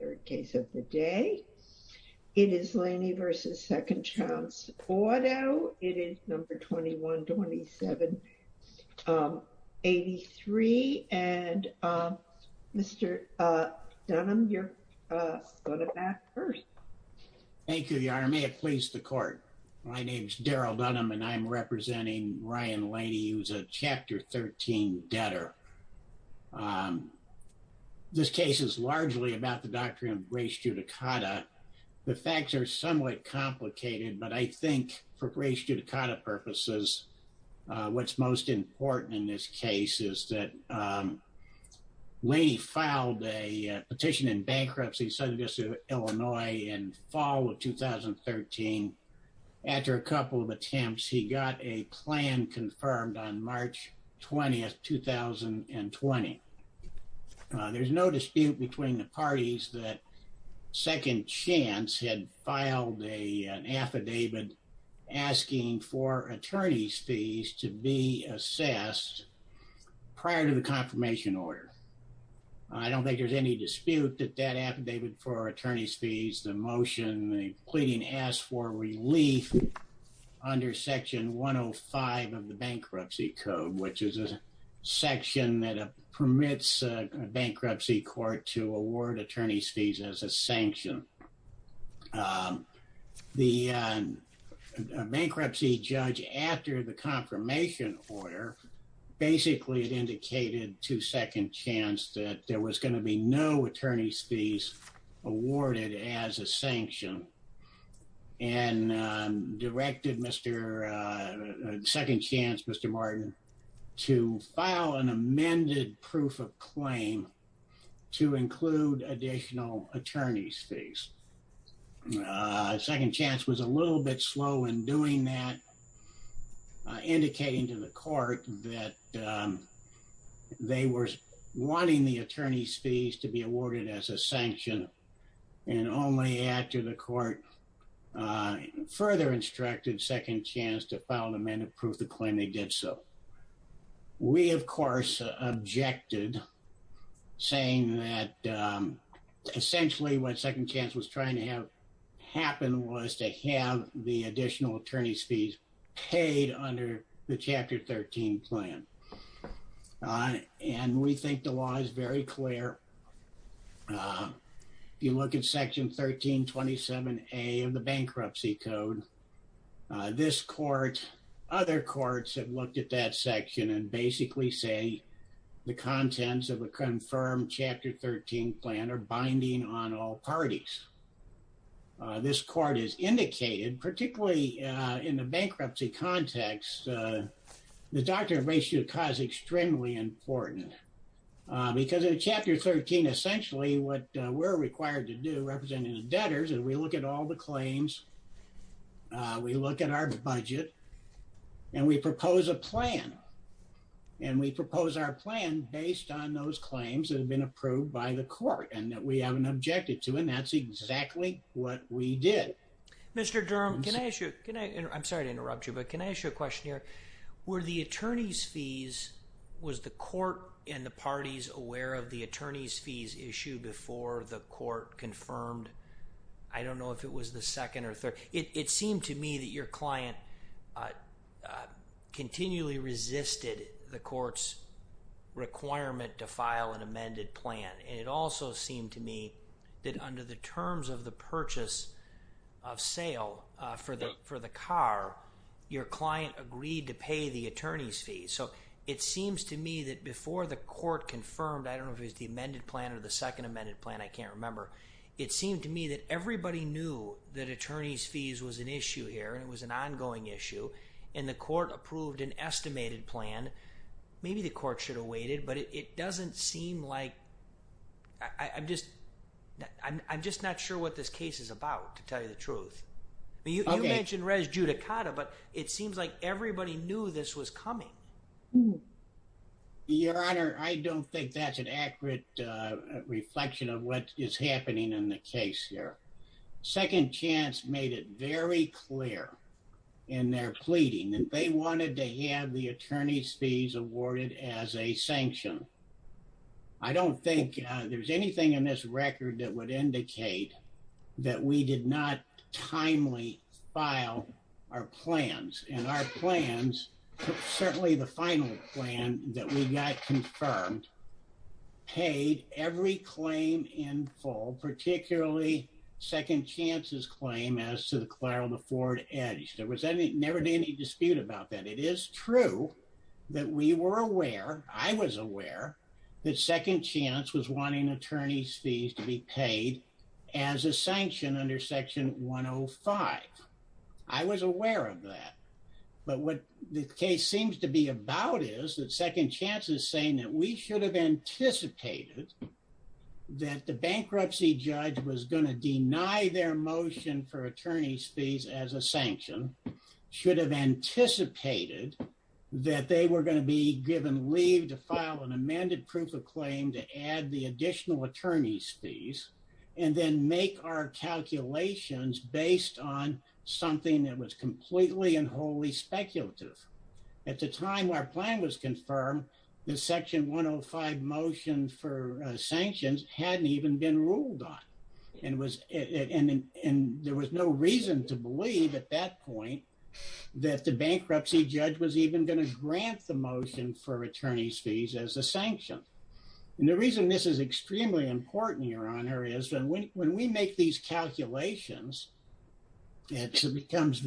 21-27-83, and Mr. Dunham, you're going to bat first. Thank you, Your Honor. May it please the Court. My name is Daryl Dunham, and I'm representing Ryan Laney, who's a Chapter 13 debtor. This case is largely about the Doctrine of Grace Judicata. The facts are somewhat complicated, but I think for Grace Judicata purposes, what's most important in this case is that Laney filed a petition in bankruptcy, in Southern District of Illinois in fall of 2013. After a couple of attempts, he got a plan confirmed on March 20th, 2020. There's no dispute between the parties that Second Chance had filed an affidavit asking for attorney's fees to be assessed prior to the confirmation order. I don't think there's any dispute that that affidavit for attorney's fees, the motion, the pleading asked for relief under Section 105 of the Bankruptcy Code, which is a section that permits bankruptcy court to award attorney's fees as a sanction. The bankruptcy judge, after the confirmation order, basically indicated to Second Chance that there was going to be no attorney's fees awarded as a sanction and directed Second Chance, Mr. Martin, to file an amended proof of claim to include additional attorney's fees. Second Chance was a little bit slow in doing that, indicating to the court that they were wanting the attorney's fees to be awarded as a sanction, and only after the court further instructed Second Chance to file an amended proof of claim, they did so. We, of course, objected, saying that essentially what Second Chance was trying to have happen was to have the additional attorney's fees paid under the Chapter 13 plan. And we think the law is very clear. And I think that's the doctrine of ratio of cause extremely important, because in Chapter 13, essentially what we're required to do, representing the debtors, is we look at all the claims, we look at our budget, and we propose a plan, and we propose our plan based on those claims that have been approved by the court, and that we haven't objected to, and that's exactly what we did. Mr. Durham, can I ask you, I'm sorry to interrupt you, but can I ask you a question here? Were the attorney's fees, was the court and the parties aware of the attorney's fees issue before the court confirmed, I don't know if it was the second or third, it seemed to me that your client continually resisted the court's requirement to file an amended plan. And it also seemed to me that under the terms of the purchase of sale for the car, your client agreed to pay the attorney's fees. So it seems to me that before the court confirmed, I don't know if it was the amended plan or the second amended plan, I can't remember, it seemed to me that everybody knew that attorney's fees was an issue here, and it was an ongoing issue, and the court approved an estimated plan, maybe the court should have waited, but it doesn't seem like, I'm just not sure what this case is about, to tell you the truth. You mentioned res judicata, but it seems like everybody knew this was coming. Your Honor, I don't think that's an accurate reflection of what is happening in the case here. Second Chance made it very clear in their pleading that they wanted to have the attorney's fees awarded as a sanction. I don't think there's anything in this record that would indicate that we did not timely file our plans, and our plans, certainly the final plan that we got confirmed, paid every claim in full, particularly Second Chance's claim as to the Clyro and the Ford Edge. There was never any dispute about that. It is true that we were aware, I was aware, that Second Chance was wanting attorney's fees to be paid as a sanction under Section 105. I was aware of that, but what the case seems to be about is that Second Chance is saying that we should have anticipated that the bankruptcy judge was going to deny their motion for attorney's fees as a sanction, should have anticipated that they were going to be given leave to file an amended proof of claim to add the additional attorney's fees, and then make our calculations based on something that was completely and wholly speculative. At the time our plan was confirmed, the Section 105 motion for sanctions hadn't even been ruled on, and there was no reason to believe at that point that the bankruptcy judge was even going to grant the motion for attorney's fees as a sanction. The reason this is extremely important, Your Honor, is when we make these calculations, it becomes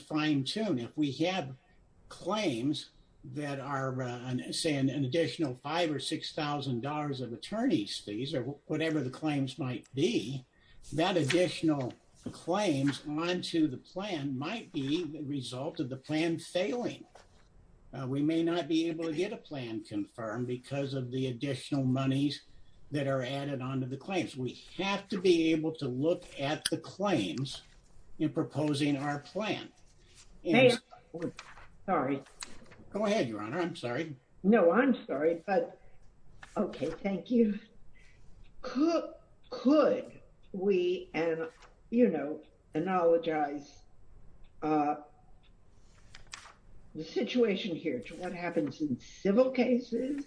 fine-tuned. If we have claims that are, say, an additional $5,000 or $6,000 of attorney's fees, or whatever the claims might be, that additional claims onto the plan might be the result of the plan failing. We may not be able to get a plan confirmed because of the additional monies that are added onto the claims. We have to be able to look at the claims in proposing our plan. Sorry. Go ahead, Your Honor. I'm sorry. No, I'm sorry. But OK, thank you. Could we, you know, analogize the situation here to what happens in civil cases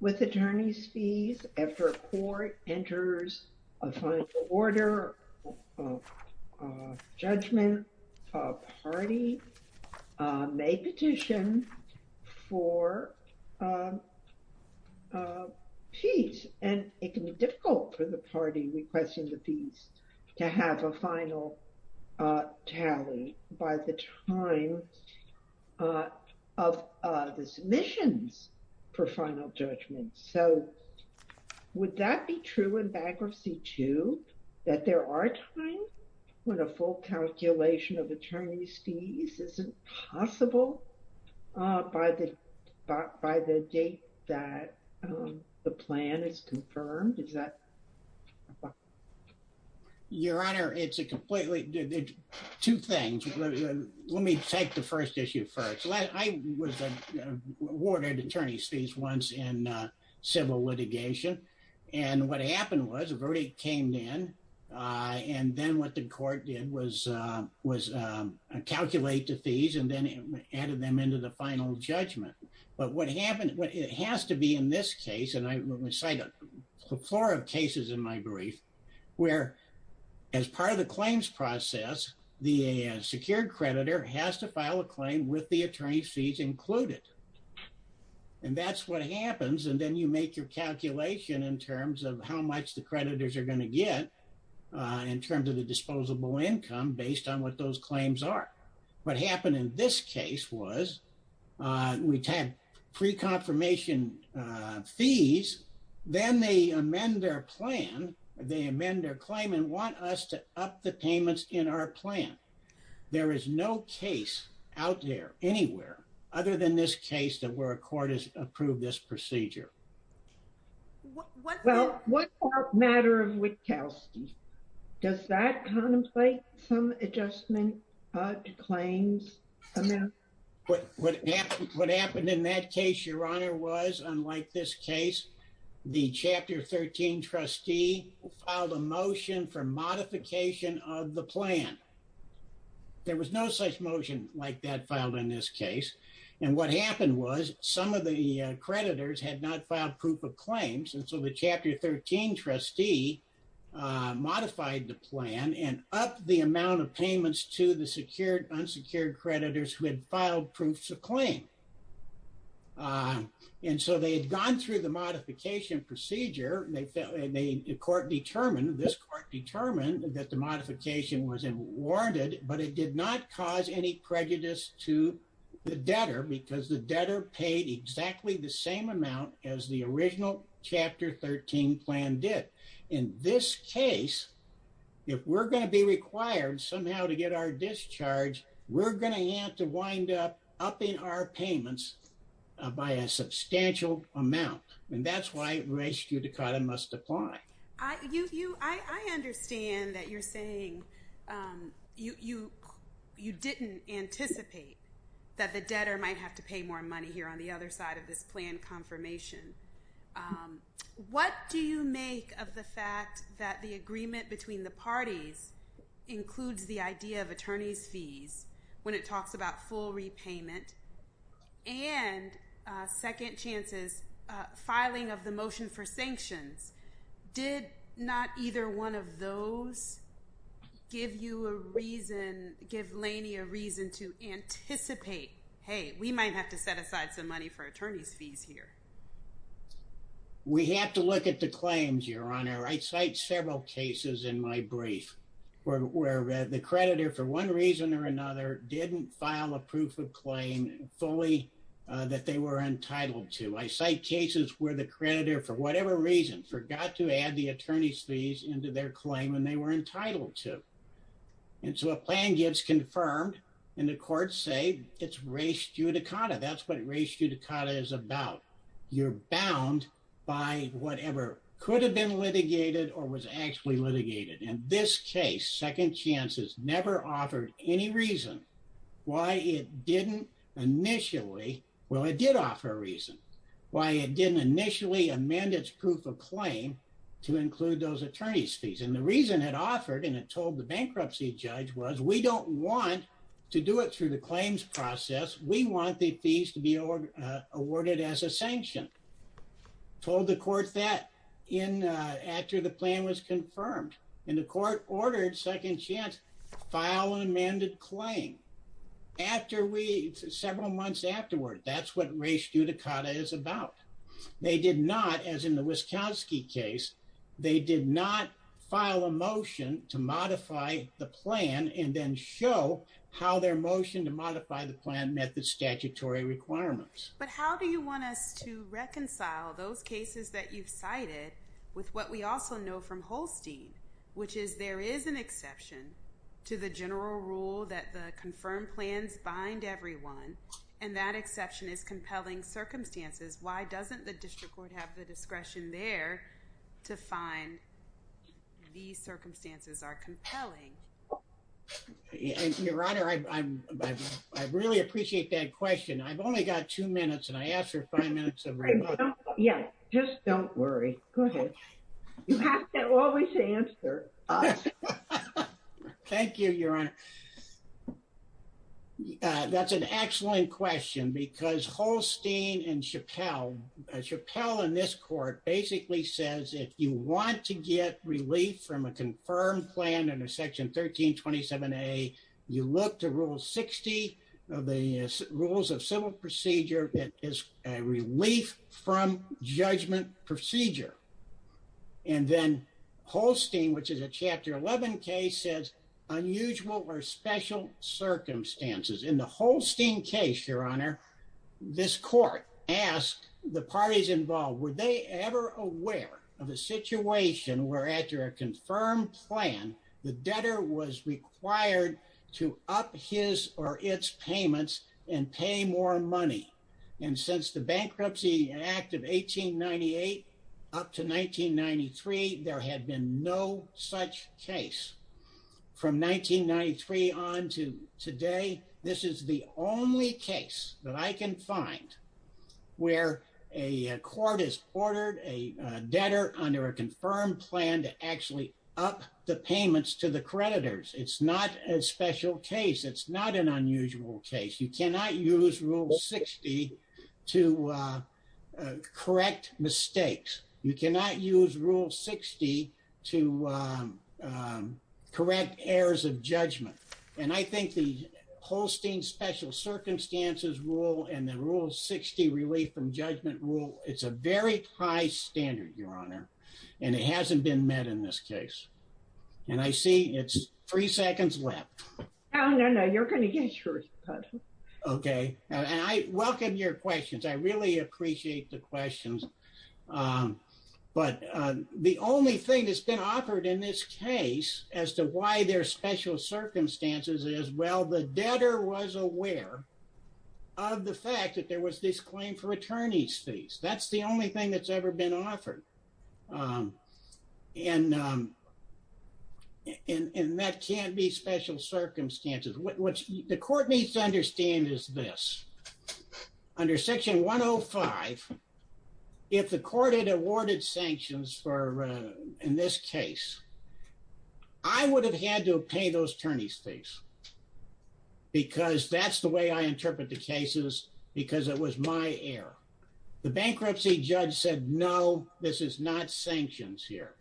with attorney's fees after a court enters a final order of judgment, a party may petition for fees? And it can be difficult for the party requesting the fees to have a final tally by the time of the submissions for final judgment. So would that be true in bankruptcy, too, that there are times when a full calculation of attorney's fees isn't possible by the date that the plan is confirmed? Is that… Your Honor, it's a completely… Two things. Let me take the first issue first. I was awarded attorney's fees once in civil litigation. And what happened was a verdict came in. And then what the court did was calculate the fees and then added them into the final judgment. But it has to be in this case, and I cite a plethora of cases in my brief, where as part of the claims process, the secured creditor has to file a claim with the attorney's fees included. And that's what happens. And then you make your calculation in terms of how much the creditors are going to get in terms of the disposable income based on what those claims are. What happened in this case was we had pre-confirmation fees. Then they amend their plan. They amend their claim and want us to up the payments in our plan. There is no case out there anywhere other than this case that where a court has approved this procedure. Well, what about matter of Wittkowski? Does that contemplate some adjustment to claims? What happened in that case, Your Honor, was unlike this case, the Chapter 13 trustee filed a motion for modification of the plan. There was no such motion like that filed in this case. And what happened was some of the creditors had not filed proof of claims. And so the Chapter 13 trustee modified the plan and upped the amount of payments to the secured, unsecured creditors who had filed proofs of claim. And so they had gone through the modification procedure. The court determined, this court determined that the modification was warranted, but it did not cause any prejudice to the debtor because the debtor paid exactly the same amount as the original Chapter 13 plan did. In this case, if we're going to be required somehow to get our discharge, we're going to have to wind up upping our payments by a substantial amount. And that's why res judicata must apply. I understand that you're saying you didn't anticipate that the debtor might have to pay more money here on the other side of this plan confirmation. What do you make of the fact that the agreement between the parties includes the idea of attorney's fees when it talks about full repayment and second chances filing of the motion for sanctions? Did not either one of those give you a reason, give Laney a reason to anticipate, hey, we might have to set aside some money for attorney's fees here? We have to look at the claims, Your Honor. I cite several cases in my brief where the creditor, for one reason or another, didn't file a proof of claim fully that they were entitled to. I cite cases where the creditor, for whatever reason, forgot to add the attorney's fees into their claim and they were entitled to. And so a plan gets confirmed and the courts say it's res judicata. That's what res judicata is about. You're bound by whatever could have been litigated or was actually litigated. In this case, second chances never offered any reason why it didn't initially. Well, it did offer a reason why it didn't initially amend its proof of claim to include those attorney's fees. And the reason it offered, and it told the bankruptcy judge, was we don't want to do it through the claims process. We want the fees to be awarded as a sanction. Told the court that after the plan was confirmed. And the court ordered second chance file an amended claim. After we, several months afterward, that's what res judicata is about. They did not, as in the Wisconski case, they did not file a motion to modify the plan and then show how their motion to modify the plan met the statutory requirements. But how do you want us to reconcile those cases that you've cited with what we also know from Holstein? Which is there is an exception to the general rule that the confirmed plans bind everyone. And that exception is compelling circumstances. Why doesn't the district court have the discretion there to find these circumstances are compelling? Your Honor, I really appreciate that question. I've only got two minutes, and I asked for five minutes. Yeah, just don't worry. Go ahead. You have to always answer. Thank you, Your Honor. That's an excellent question. Because Holstein and Chappell, Chappell in this court basically says if you want to get relief from a confirmed plan under section 1327A, you look to rule 60 of the rules of civil procedure. It is a relief from judgment procedure. And then Holstein, which is a chapter 11 case, says unusual or special circumstances. In the Holstein case, Your Honor, this court asked the parties involved, were they ever aware of a situation where after a confirmed plan, the debtor was required to up his or its payments and pay more money? And since the Bankruptcy Act of 1898 up to 1993, there had been no such case. From 1993 on to today, this is the only case that I can find where a court has ordered a debtor under a confirmed plan to actually up the payments to the creditors. It's not a special case. It's not an unusual case. You cannot use rule 60 to correct mistakes. You cannot use rule 60 to correct errors of judgment. And I think the Holstein special circumstances rule and the rule 60 relief from judgment rule, it's a very high standard, Your Honor. And it hasn't been met in this case. And I see it's three seconds left. No, no, no. You're going to get your cut. Okay. And I welcome your questions. I really appreciate the questions. But the only thing that's been offered in this case as to why there are special circumstances is, well, the debtor was aware of the fact that there was this claim for attorney's fees. That's the only thing that's ever been offered. And that can't be special circumstances. What the court needs to understand is this. Under section 105, if the court had awarded sanctions for in this case, I would have had to pay those attorney's fees because that's the way I interpret the cases because it was my error. The bankruptcy judge said, no, this is not sanctions here.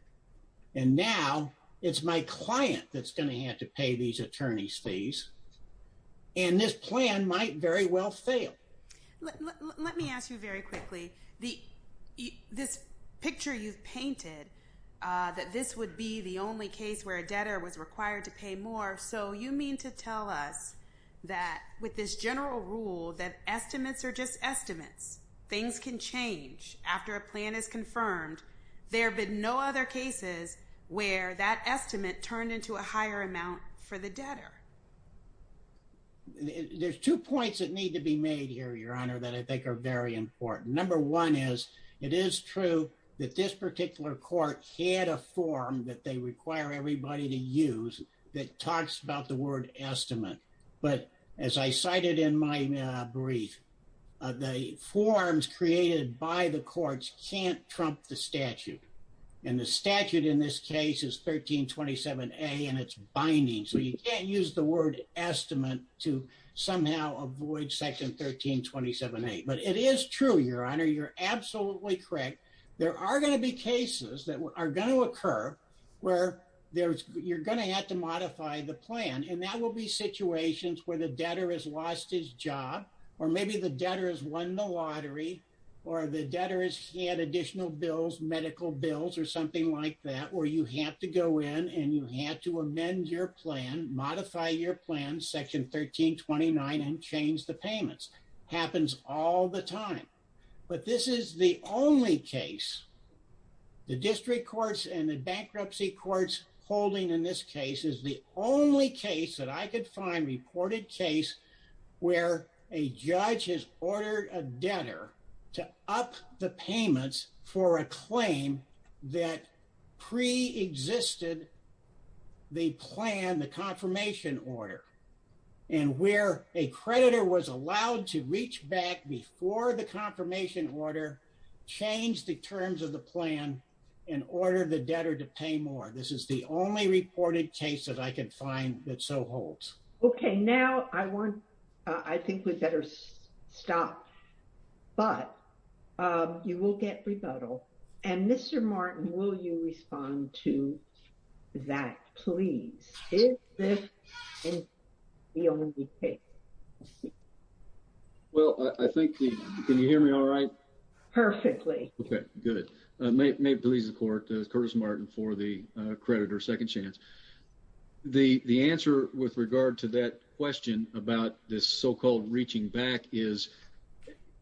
And now it's my client that's going to have to pay these attorney's fees. And this plan might very well fail. Let me ask you very quickly, this picture you've painted, that this would be the only case where a debtor was required to pay more. So you mean to tell us that with this general rule that estimates are just estimates, things can change after a plan is confirmed. There have been no other cases where that estimate turned into a higher amount for the debtor. There's two points that need to be made here, Your Honor, that I think are very important. Number one is it is true that this particular court had a form that they require everybody to use that talks about the word estimate. But as I cited in my brief, the forms created by the courts can't trump the statute. And the statute in this case is 1327A and it's binding. So you can't use the word estimate to somehow avoid section 1327A. But it is true, Your Honor, you're absolutely correct. There are going to be cases that are going to occur where you're going to have to modify the plan. And that will be situations where the debtor has lost his job or maybe the debtor has won the lottery or the debtor has had additional bills, medical bills or something like that, where you have to go in and you have to amend your plan, modify your plan, section 1329 and change the payments. Happens all the time. But this is the only case, the district courts and the bankruptcy courts holding in this case is the only case that I could find reported case where a judge has ordered a debtor to up the payments for a claim that pre-existed the plan, the confirmation order. And where a creditor was allowed to reach back before the confirmation order, change the terms of the plan and order the debtor to pay more. This is the only reported case that I can find that so holds. Okay, now I want, I think we better stop, but you will get rebuttal. And Mr. Martin, will you respond to that, please? This is the only case. Well, I think, can you hear me all right? Perfectly. Okay, good. May it please the court, Curtis Martin for the creditor, Second Chance. The answer with regard to that question about this so-called reaching back is,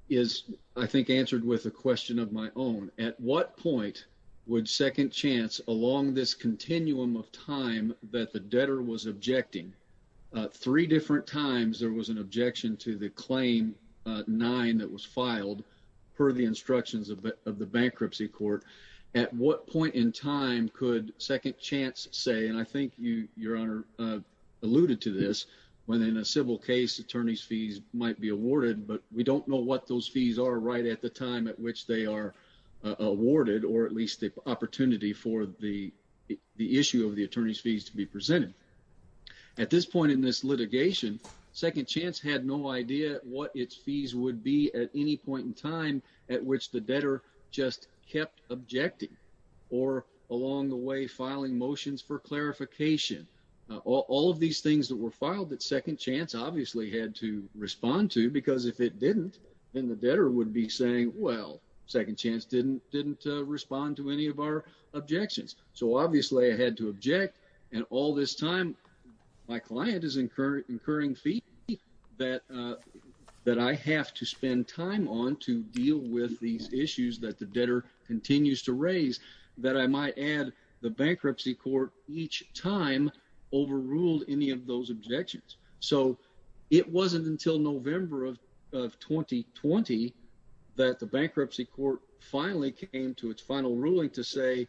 is I think answered with a question of my own. At what point would Second Chance along this continuum of time that the debtor was objecting three different times there was an objection to the claim nine that was filed per the instructions of the bankruptcy court. At what point in time could Second Chance say, and I think you, Your Honor, alluded to this, when in a civil case attorney's fees might be awarded, but we don't know what those fees are right at the time at which they are awarded, or at least the opportunity for the issue of the attorney's fees to be presented. At this point in this litigation, Second Chance had no idea what its fees would be at any point in time at which the debtor just kept objecting or along the way filing motions for clarification. All of these things that were filed that Second Chance obviously had to respond to, because if it didn't, then the debtor would be saying, well, Second Chance didn't didn't respond to any of our objections. So obviously I had to object and all this time my client is incurring fee that I have to spend time on to deal with these issues that the debtor continues to raise that I might add the bankruptcy court each time overruled any of those objections. So it wasn't until November of 2020 that the bankruptcy court finally came to its final ruling to say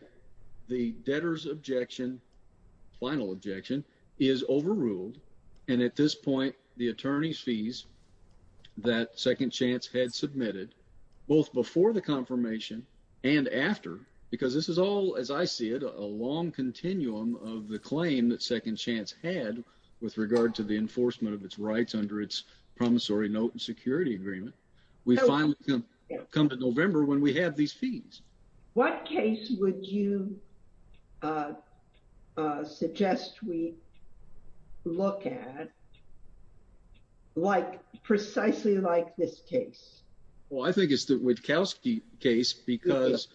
the debtor's objection, final objection, is overruled. And at this point, the attorney's fees that Second Chance had submitted, both before the confirmation and after, because this is all, as I see it, a long continuum of the claim that Second Chance had with regard to the enforcement of its rights under its promissory note and security agreement, we finally come to November when we have these fees. What case would you suggest we look at precisely like this case? Well, I think it's the Witkowski case, because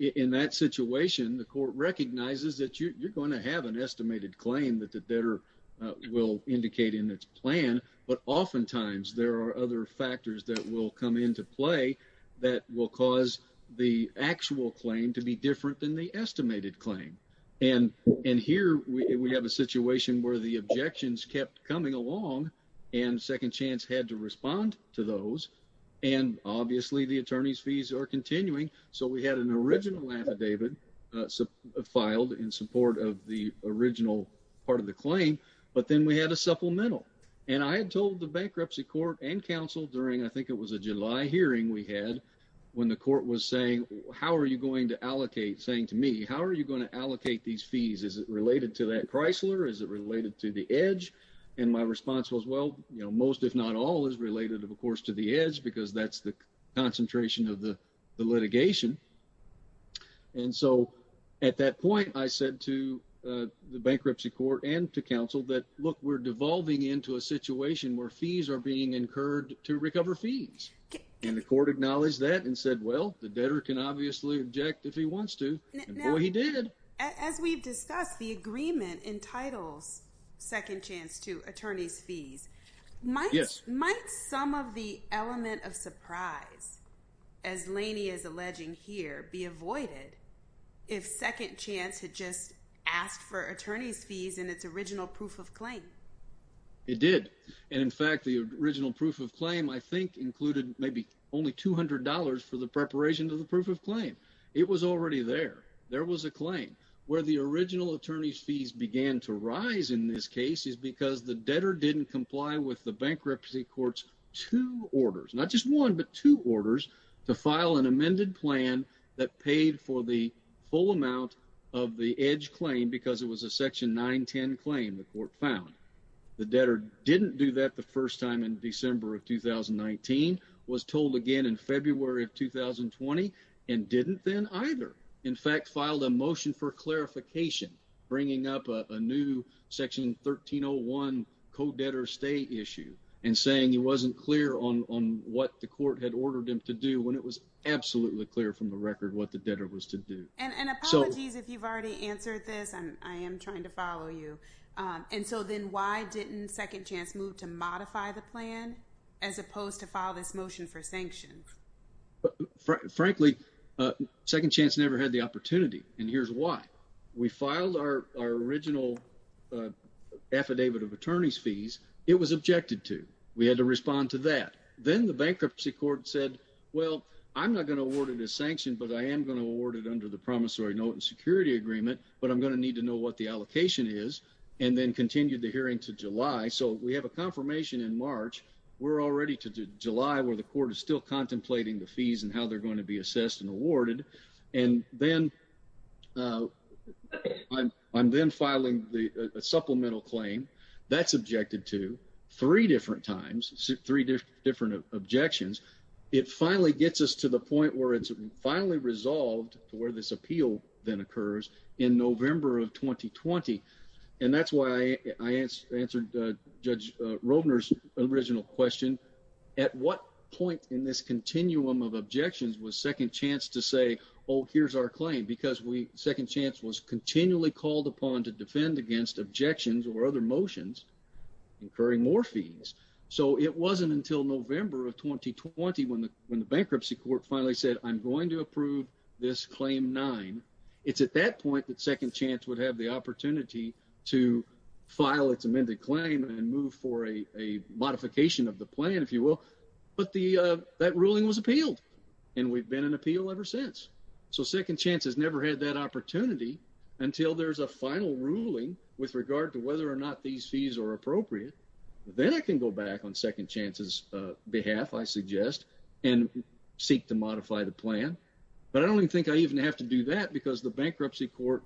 in that situation, the court recognizes that you're going to have an estimated claim that the debtor will indicate in its plan, but oftentimes there are other factors that will come into play that will cause the actual claim to be different than the estimated claim. And here we have a situation where the objections kept coming along and Second Chance had to respond to those. And obviously the attorney's fees are continuing. So we had an original affidavit filed in support of the original part of the claim, but then we had a supplemental. And I had told the bankruptcy court and counsel during, I think it was a July hearing we had, when the court was saying, how are you going to allocate, saying to me, how are you going to allocate these fees? Is it related to that Chrysler? Is it related to the edge? And my response was, well, you know, most, if not all is related, of course, to the edge, because that's the concentration of the litigation. And so at that point, I said to the bankruptcy court and to counsel that, look, we're devolving into a situation where fees are being incurred to recover fees. And the court acknowledged that and said, well, the debtor can obviously object if he wants to. And boy, he did. As we've discussed, the agreement entitles Second Chance to attorney's fees. Yes. Might some of the element of surprise, as Laney is alleging here, be avoided if Second Chance had just asked for attorney's fees in its original proof of claim? It did. And in fact, the original proof of claim, I think, included maybe only $200 for the preparation of the proof of claim. It was already there. There was a claim. Where the original attorney's fees began to rise in this case is because the debtor didn't comply with the bankruptcy court's two orders, not just one, but two orders to file an amended plan that paid for the full amount of the edge claim because it was a Section 910 claim the court found. The debtor didn't do that the first time in December of 2019, was told again in February of 2020, and didn't then either. In fact, filed a motion for clarification, bringing up a new Section 1301 co-debtor stay issue and saying he wasn't clear on what the court had ordered him to do when it was absolutely clear from the record what the debtor was to do. And apologies if you've already answered this. I am trying to follow you. And so then why didn't Second Chance move to modify the plan as opposed to file this motion for sanction? Frankly, Second Chance never had the opportunity, and here's why. We filed our original affidavit of attorney's fees. It was objected to. We had to respond to that. Then the bankruptcy court said, well, I'm not going to award it as sanction, but I am going to award it under the promissory note and security agreement, but I'm going to need to know what the allocation is, and then continued the hearing to July. So we have a confirmation in March. We're already to July, where the court is still contemplating the fees and how they're going to be assessed and awarded. And then I'm then filing a supplemental claim that's objected to three different times, three different objections. It finally gets us to the point where it's finally resolved to where this appeal then occurs in November of 2020. And that's why I answered Judge Robner's original question. At what point in this continuum of objections was Second Chance to say, oh, here's our claim? Because Second Chance was continually called upon to defend against objections or other motions incurring more fees. So it wasn't until November of 2020 when the bankruptcy court finally said, I'm going to approve this claim nine. It's at that point that Second Chance would have the opportunity to file its amended claim and move for a modification of the plan, if you will. But that ruling was appealed, and we've been in appeal ever since. So Second Chance has never had that opportunity until there's a final ruling with regard to whether or not these fees are appropriate. Then I can go back on Second Chance's behalf, I suggest, and seek to modify the plan. But I don't even think I even have to do that because the bankruptcy court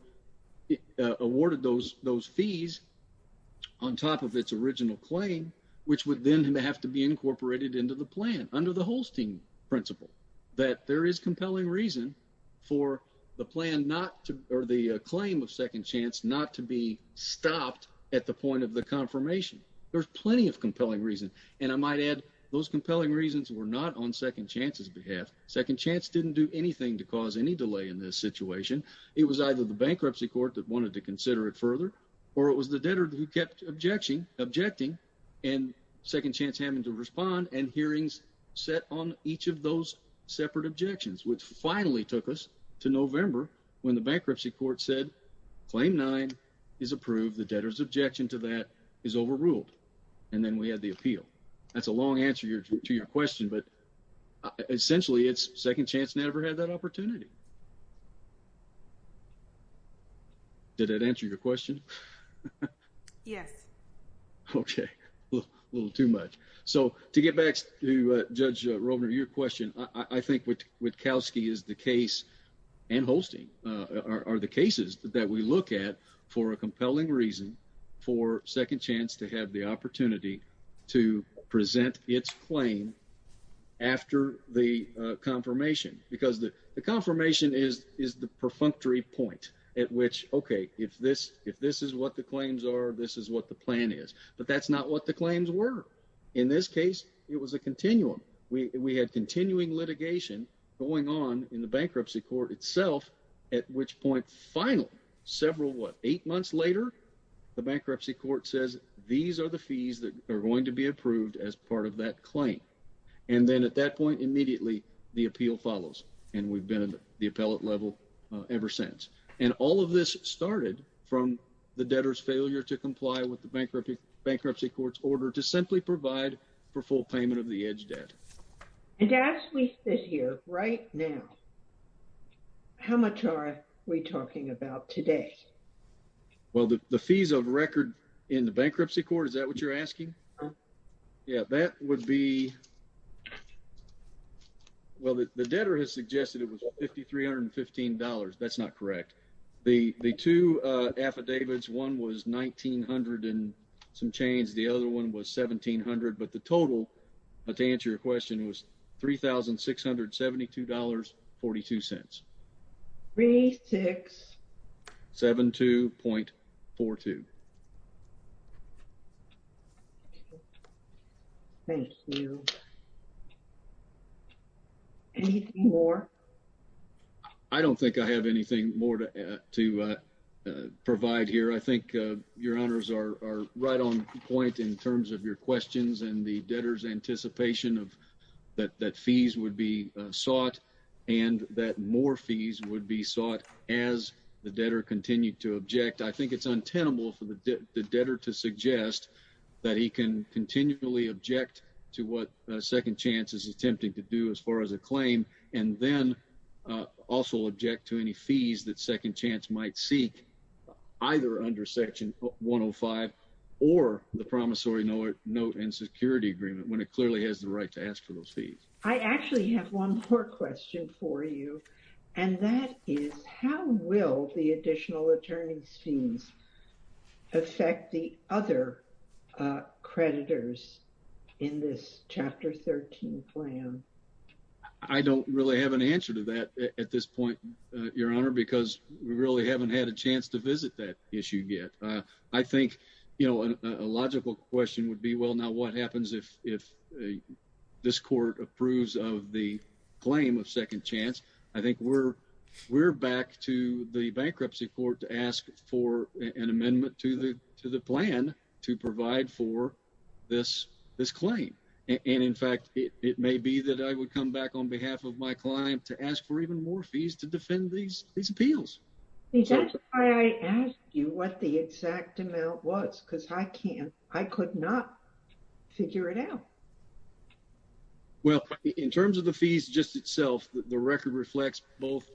awarded those fees on top of its original claim, which would then have to be incorporated into the plan under the Holstein principle. That there is compelling reason for the claim of Second Chance not to be stopped at the point of the confirmation. There's plenty of compelling reason. And I might add, those compelling reasons were not on Second Chance's behalf. Second Chance didn't do anything to cause any delay in this situation. It was either the bankruptcy court that wanted to consider it further, or it was the debtor who kept objecting, and Second Chance happened to respond and hearings set on each of those separate objections. Which finally took us to November when the bankruptcy court said, Claim 9 is approved. The debtor's objection to that is overruled. And then we had the appeal. That's a long answer to your question, but essentially it's Second Chance never had that opportunity. Did that answer your question? Yes. Okay. A little too much. So to get back to Judge Rovner, your question, I think what Kalski is the case and Holstein are the cases that we look at for a compelling reason for Second Chance to have the opportunity to present its claim after the confirmation. Because the confirmation is the perfunctory point at which, okay, if this is what the claims are, this is what the plan is. But that's not what the claims were. In this case, it was a continuum. We had continuing litigation going on in the bankruptcy court itself, at which point, final, several, what, eight months later, the bankruptcy court says these are the fees that are going to be approved as part of that claim. And then at that point, immediately, the appeal follows. And we've been at the appellate level ever since. And all of this started from the debtor's failure to comply with the bankruptcy court's order to simply provide for full payment of the edge debt. And to ask me this here, right now, how much are we talking about today? Well, the fees of record in the bankruptcy court, is that what you're asking? Yeah, that would be, well, the debtor has suggested it was $5,315. That's not correct. The two affidavits, one was $1,900 and some change. The other one was $1,700. But the total, to answer your question, was $3,672.42. $3,672.42. Thank you. Anything more? I don't think I have anything more to provide here. I think your honors are right on point in terms of your questions and the debtor's anticipation that fees would be sought and that more fees would be sought as the debtor continued to object. I think it's untenable for the debtor to suggest that he can continually object to what Second Chance is attempting to do as far as a claim and then also object to any fees that Second Chance might seek either under Section 105 or the Promissory Note and Security Agreement when it clearly has the right to ask for those fees. I actually have one more question for you, and that is, how will the additional attorney's fees affect the other creditors in this Chapter 13 plan? I don't really have an answer to that at this point, your honor, because we really haven't had a chance to visit that issue yet. I think a logical question would be, well, now what happens if this court approves of the claim of Second Chance? I think we're back to the bankruptcy court to ask for an amendment to the plan to provide for this claim. And in fact, it may be that I would come back on behalf of my client to ask for even more fees to defend these appeals. That's why I asked you what the exact amount was, because I could not figure it out. Well, in terms of the fees just itself, the record reflects both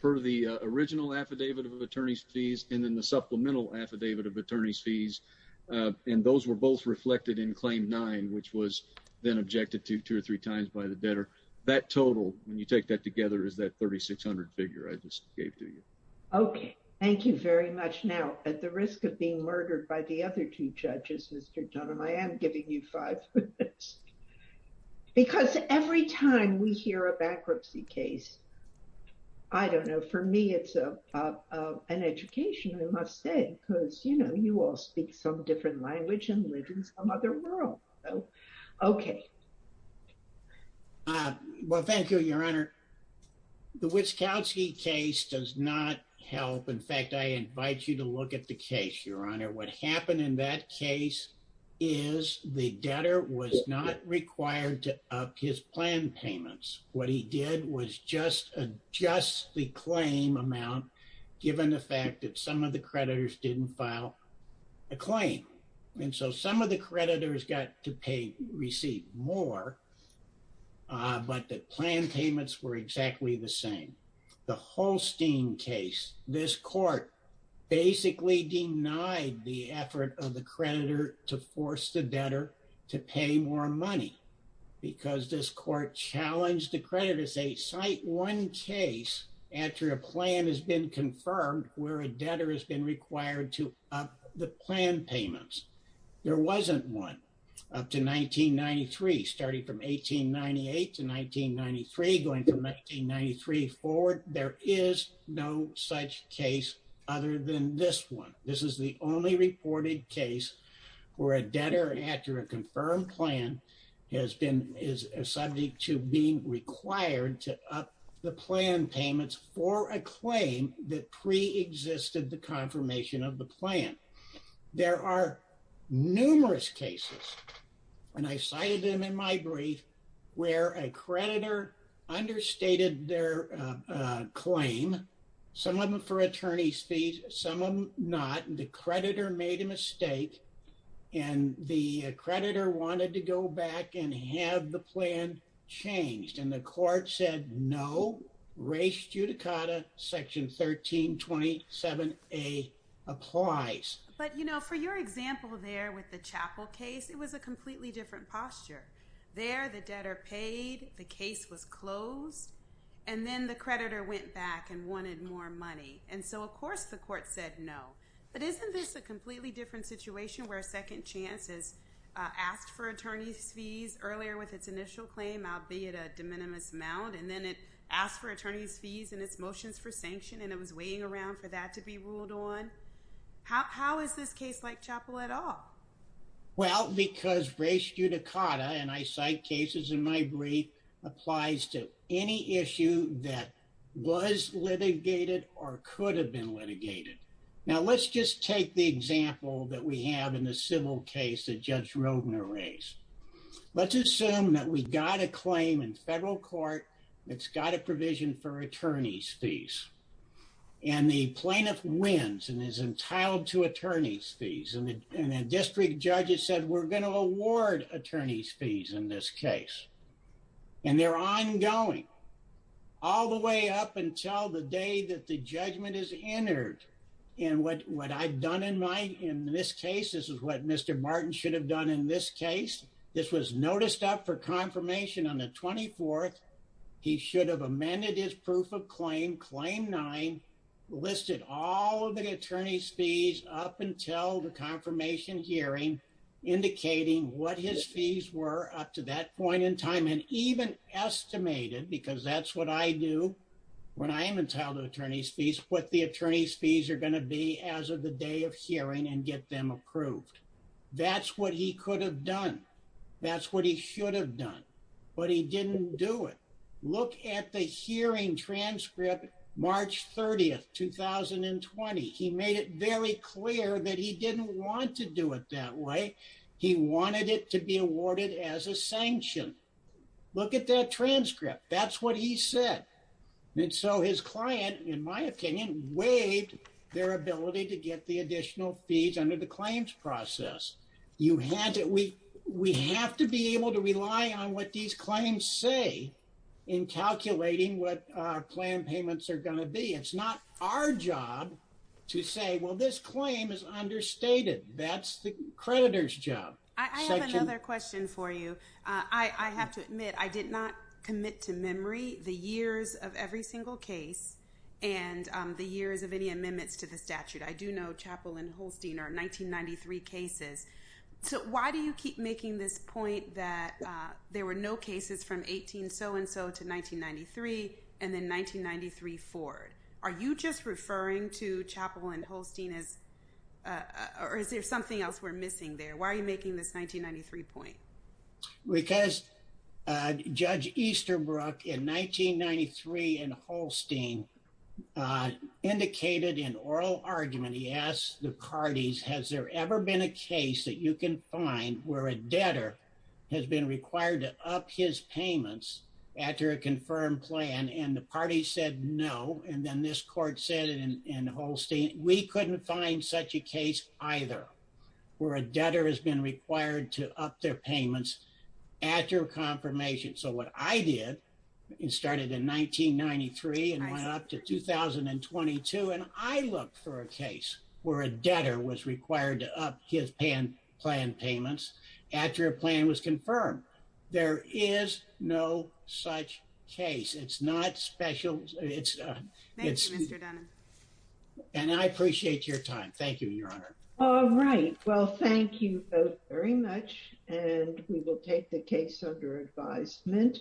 per the original affidavit of attorney's fees and then the supplemental affidavit of attorney's fees. And those were both reflected in Claim 9, which was then objected to two or three times by the debtor. That total, when you take that together, is that 3600 figure I just gave to you. Okay, thank you very much. Now, at the risk of being murdered by the other two judges, Mr. Dunham, I am giving you five. Because every time we hear a bankruptcy case, I don't know, for me, it's an education, I must say, because, you know, you all speak some different language and live in some other world. Okay. Well, thank you, Your Honor. The Witzkowski case does not help. In fact, I invite you to look at the case, Your Honor. What happened in that case is the debtor was not required to up his plan payments. What he did was just adjust the claim amount, given the fact that some of the creditors didn't file a claim. And so some of the creditors got to receive more, but the plan payments were exactly the same. The Holstein case, this court basically denied the effort of the creditor to force the debtor to pay more money. Because this court challenged the creditor to say, cite one case after a plan has been confirmed where a debtor has been required to up the plan payments. There wasn't one up to 1993, starting from 1898 to 1993, going from 1993 forward. There is no such case other than this one. This is the only reported case where a debtor, after a confirmed plan, is subject to being required to up the plan payments for a claim that preexisted the confirmation of the plan. There are numerous cases, and I cited them in my brief, where a creditor understated their claim, some of them for attorney's fees, some of them not. The creditor made a mistake, and the creditor wanted to go back and have the plan changed. And the court said, no, res judicata, section 1327A applies. But, you know, for your example there with the Chapel case, it was a completely different posture. There the debtor paid, the case was closed, and then the creditor went back and wanted more money. And so, of course, the court said no. But isn't this a completely different situation where Second Chance has asked for attorney's fees earlier with its initial claim, albeit a de minimis amount, and then it asked for attorney's fees in its motions for sanction, and it was waiting around for that to be ruled on? How is this case like Chapel at all? Well, because res judicata, and I cite cases in my brief, applies to any issue that was litigated or could have been litigated. Now, let's just take the example that we have in the civil case that Judge Rodner raised. Let's assume that we got a claim in federal court that's got a provision for attorney's fees. And the plaintiff wins and is entitled to attorney's fees. And the district judge has said, we're going to award attorney's fees in this case. And they're ongoing all the way up until the day that the judgment is entered. And what I've done in this case, this is what Mr. Martin should have done in this case. This was noticed up for confirmation on the 24th. He should have amended his proof of claim, claim nine, listed all the attorney's fees up until the confirmation hearing, indicating what his fees were up to that point in time, and even estimated, because that's what I do when I am entitled to attorney's fees, what the attorney's fees are going to be as of the day of hearing and get them approved. That's what he could have done. That's what he should have done. But he didn't do it. Look at the hearing transcript, March 30th, 2020. He made it very clear that he didn't want to do it that way. He wanted it to be awarded as a sanction. Look at that transcript. That's what he said. And so his client, in my opinion, waived their ability to get the additional fees under the claims process. We have to be able to rely on what these claims say in calculating what our plan payments are going to be. It's not our job to say, well, this claim is understated. That's the creditor's job. I have another question for you. I have to admit, I did not commit to memory the years of every single case and the years of any amendments to the statute. I do know Chappell and Holstein are 1993 cases. So why do you keep making this point that there were no cases from 18 so-and-so to 1993 and then 1993 Ford? Are you just referring to Chappell and Holstein or is there something else we're missing there? Why are you making this 1993 point? Because Judge Easterbrook in 1993 and Holstein indicated an oral argument. He asked the parties, has there ever been a case that you can find where a debtor has been required to up his payments after a confirmed plan? And the party said no. And then this court said in Holstein, we couldn't find such a case either where a debtor has been required to up their payments after confirmation. So what I did, it started in 1993 and went up to 2022. And I look for a case where a debtor was required to up his plan payments after a plan was confirmed. There is no such case. It's not special. And I appreciate your time. Thank you, Your Honor. All right. Well, thank you both very much. And we will take the case under advisement.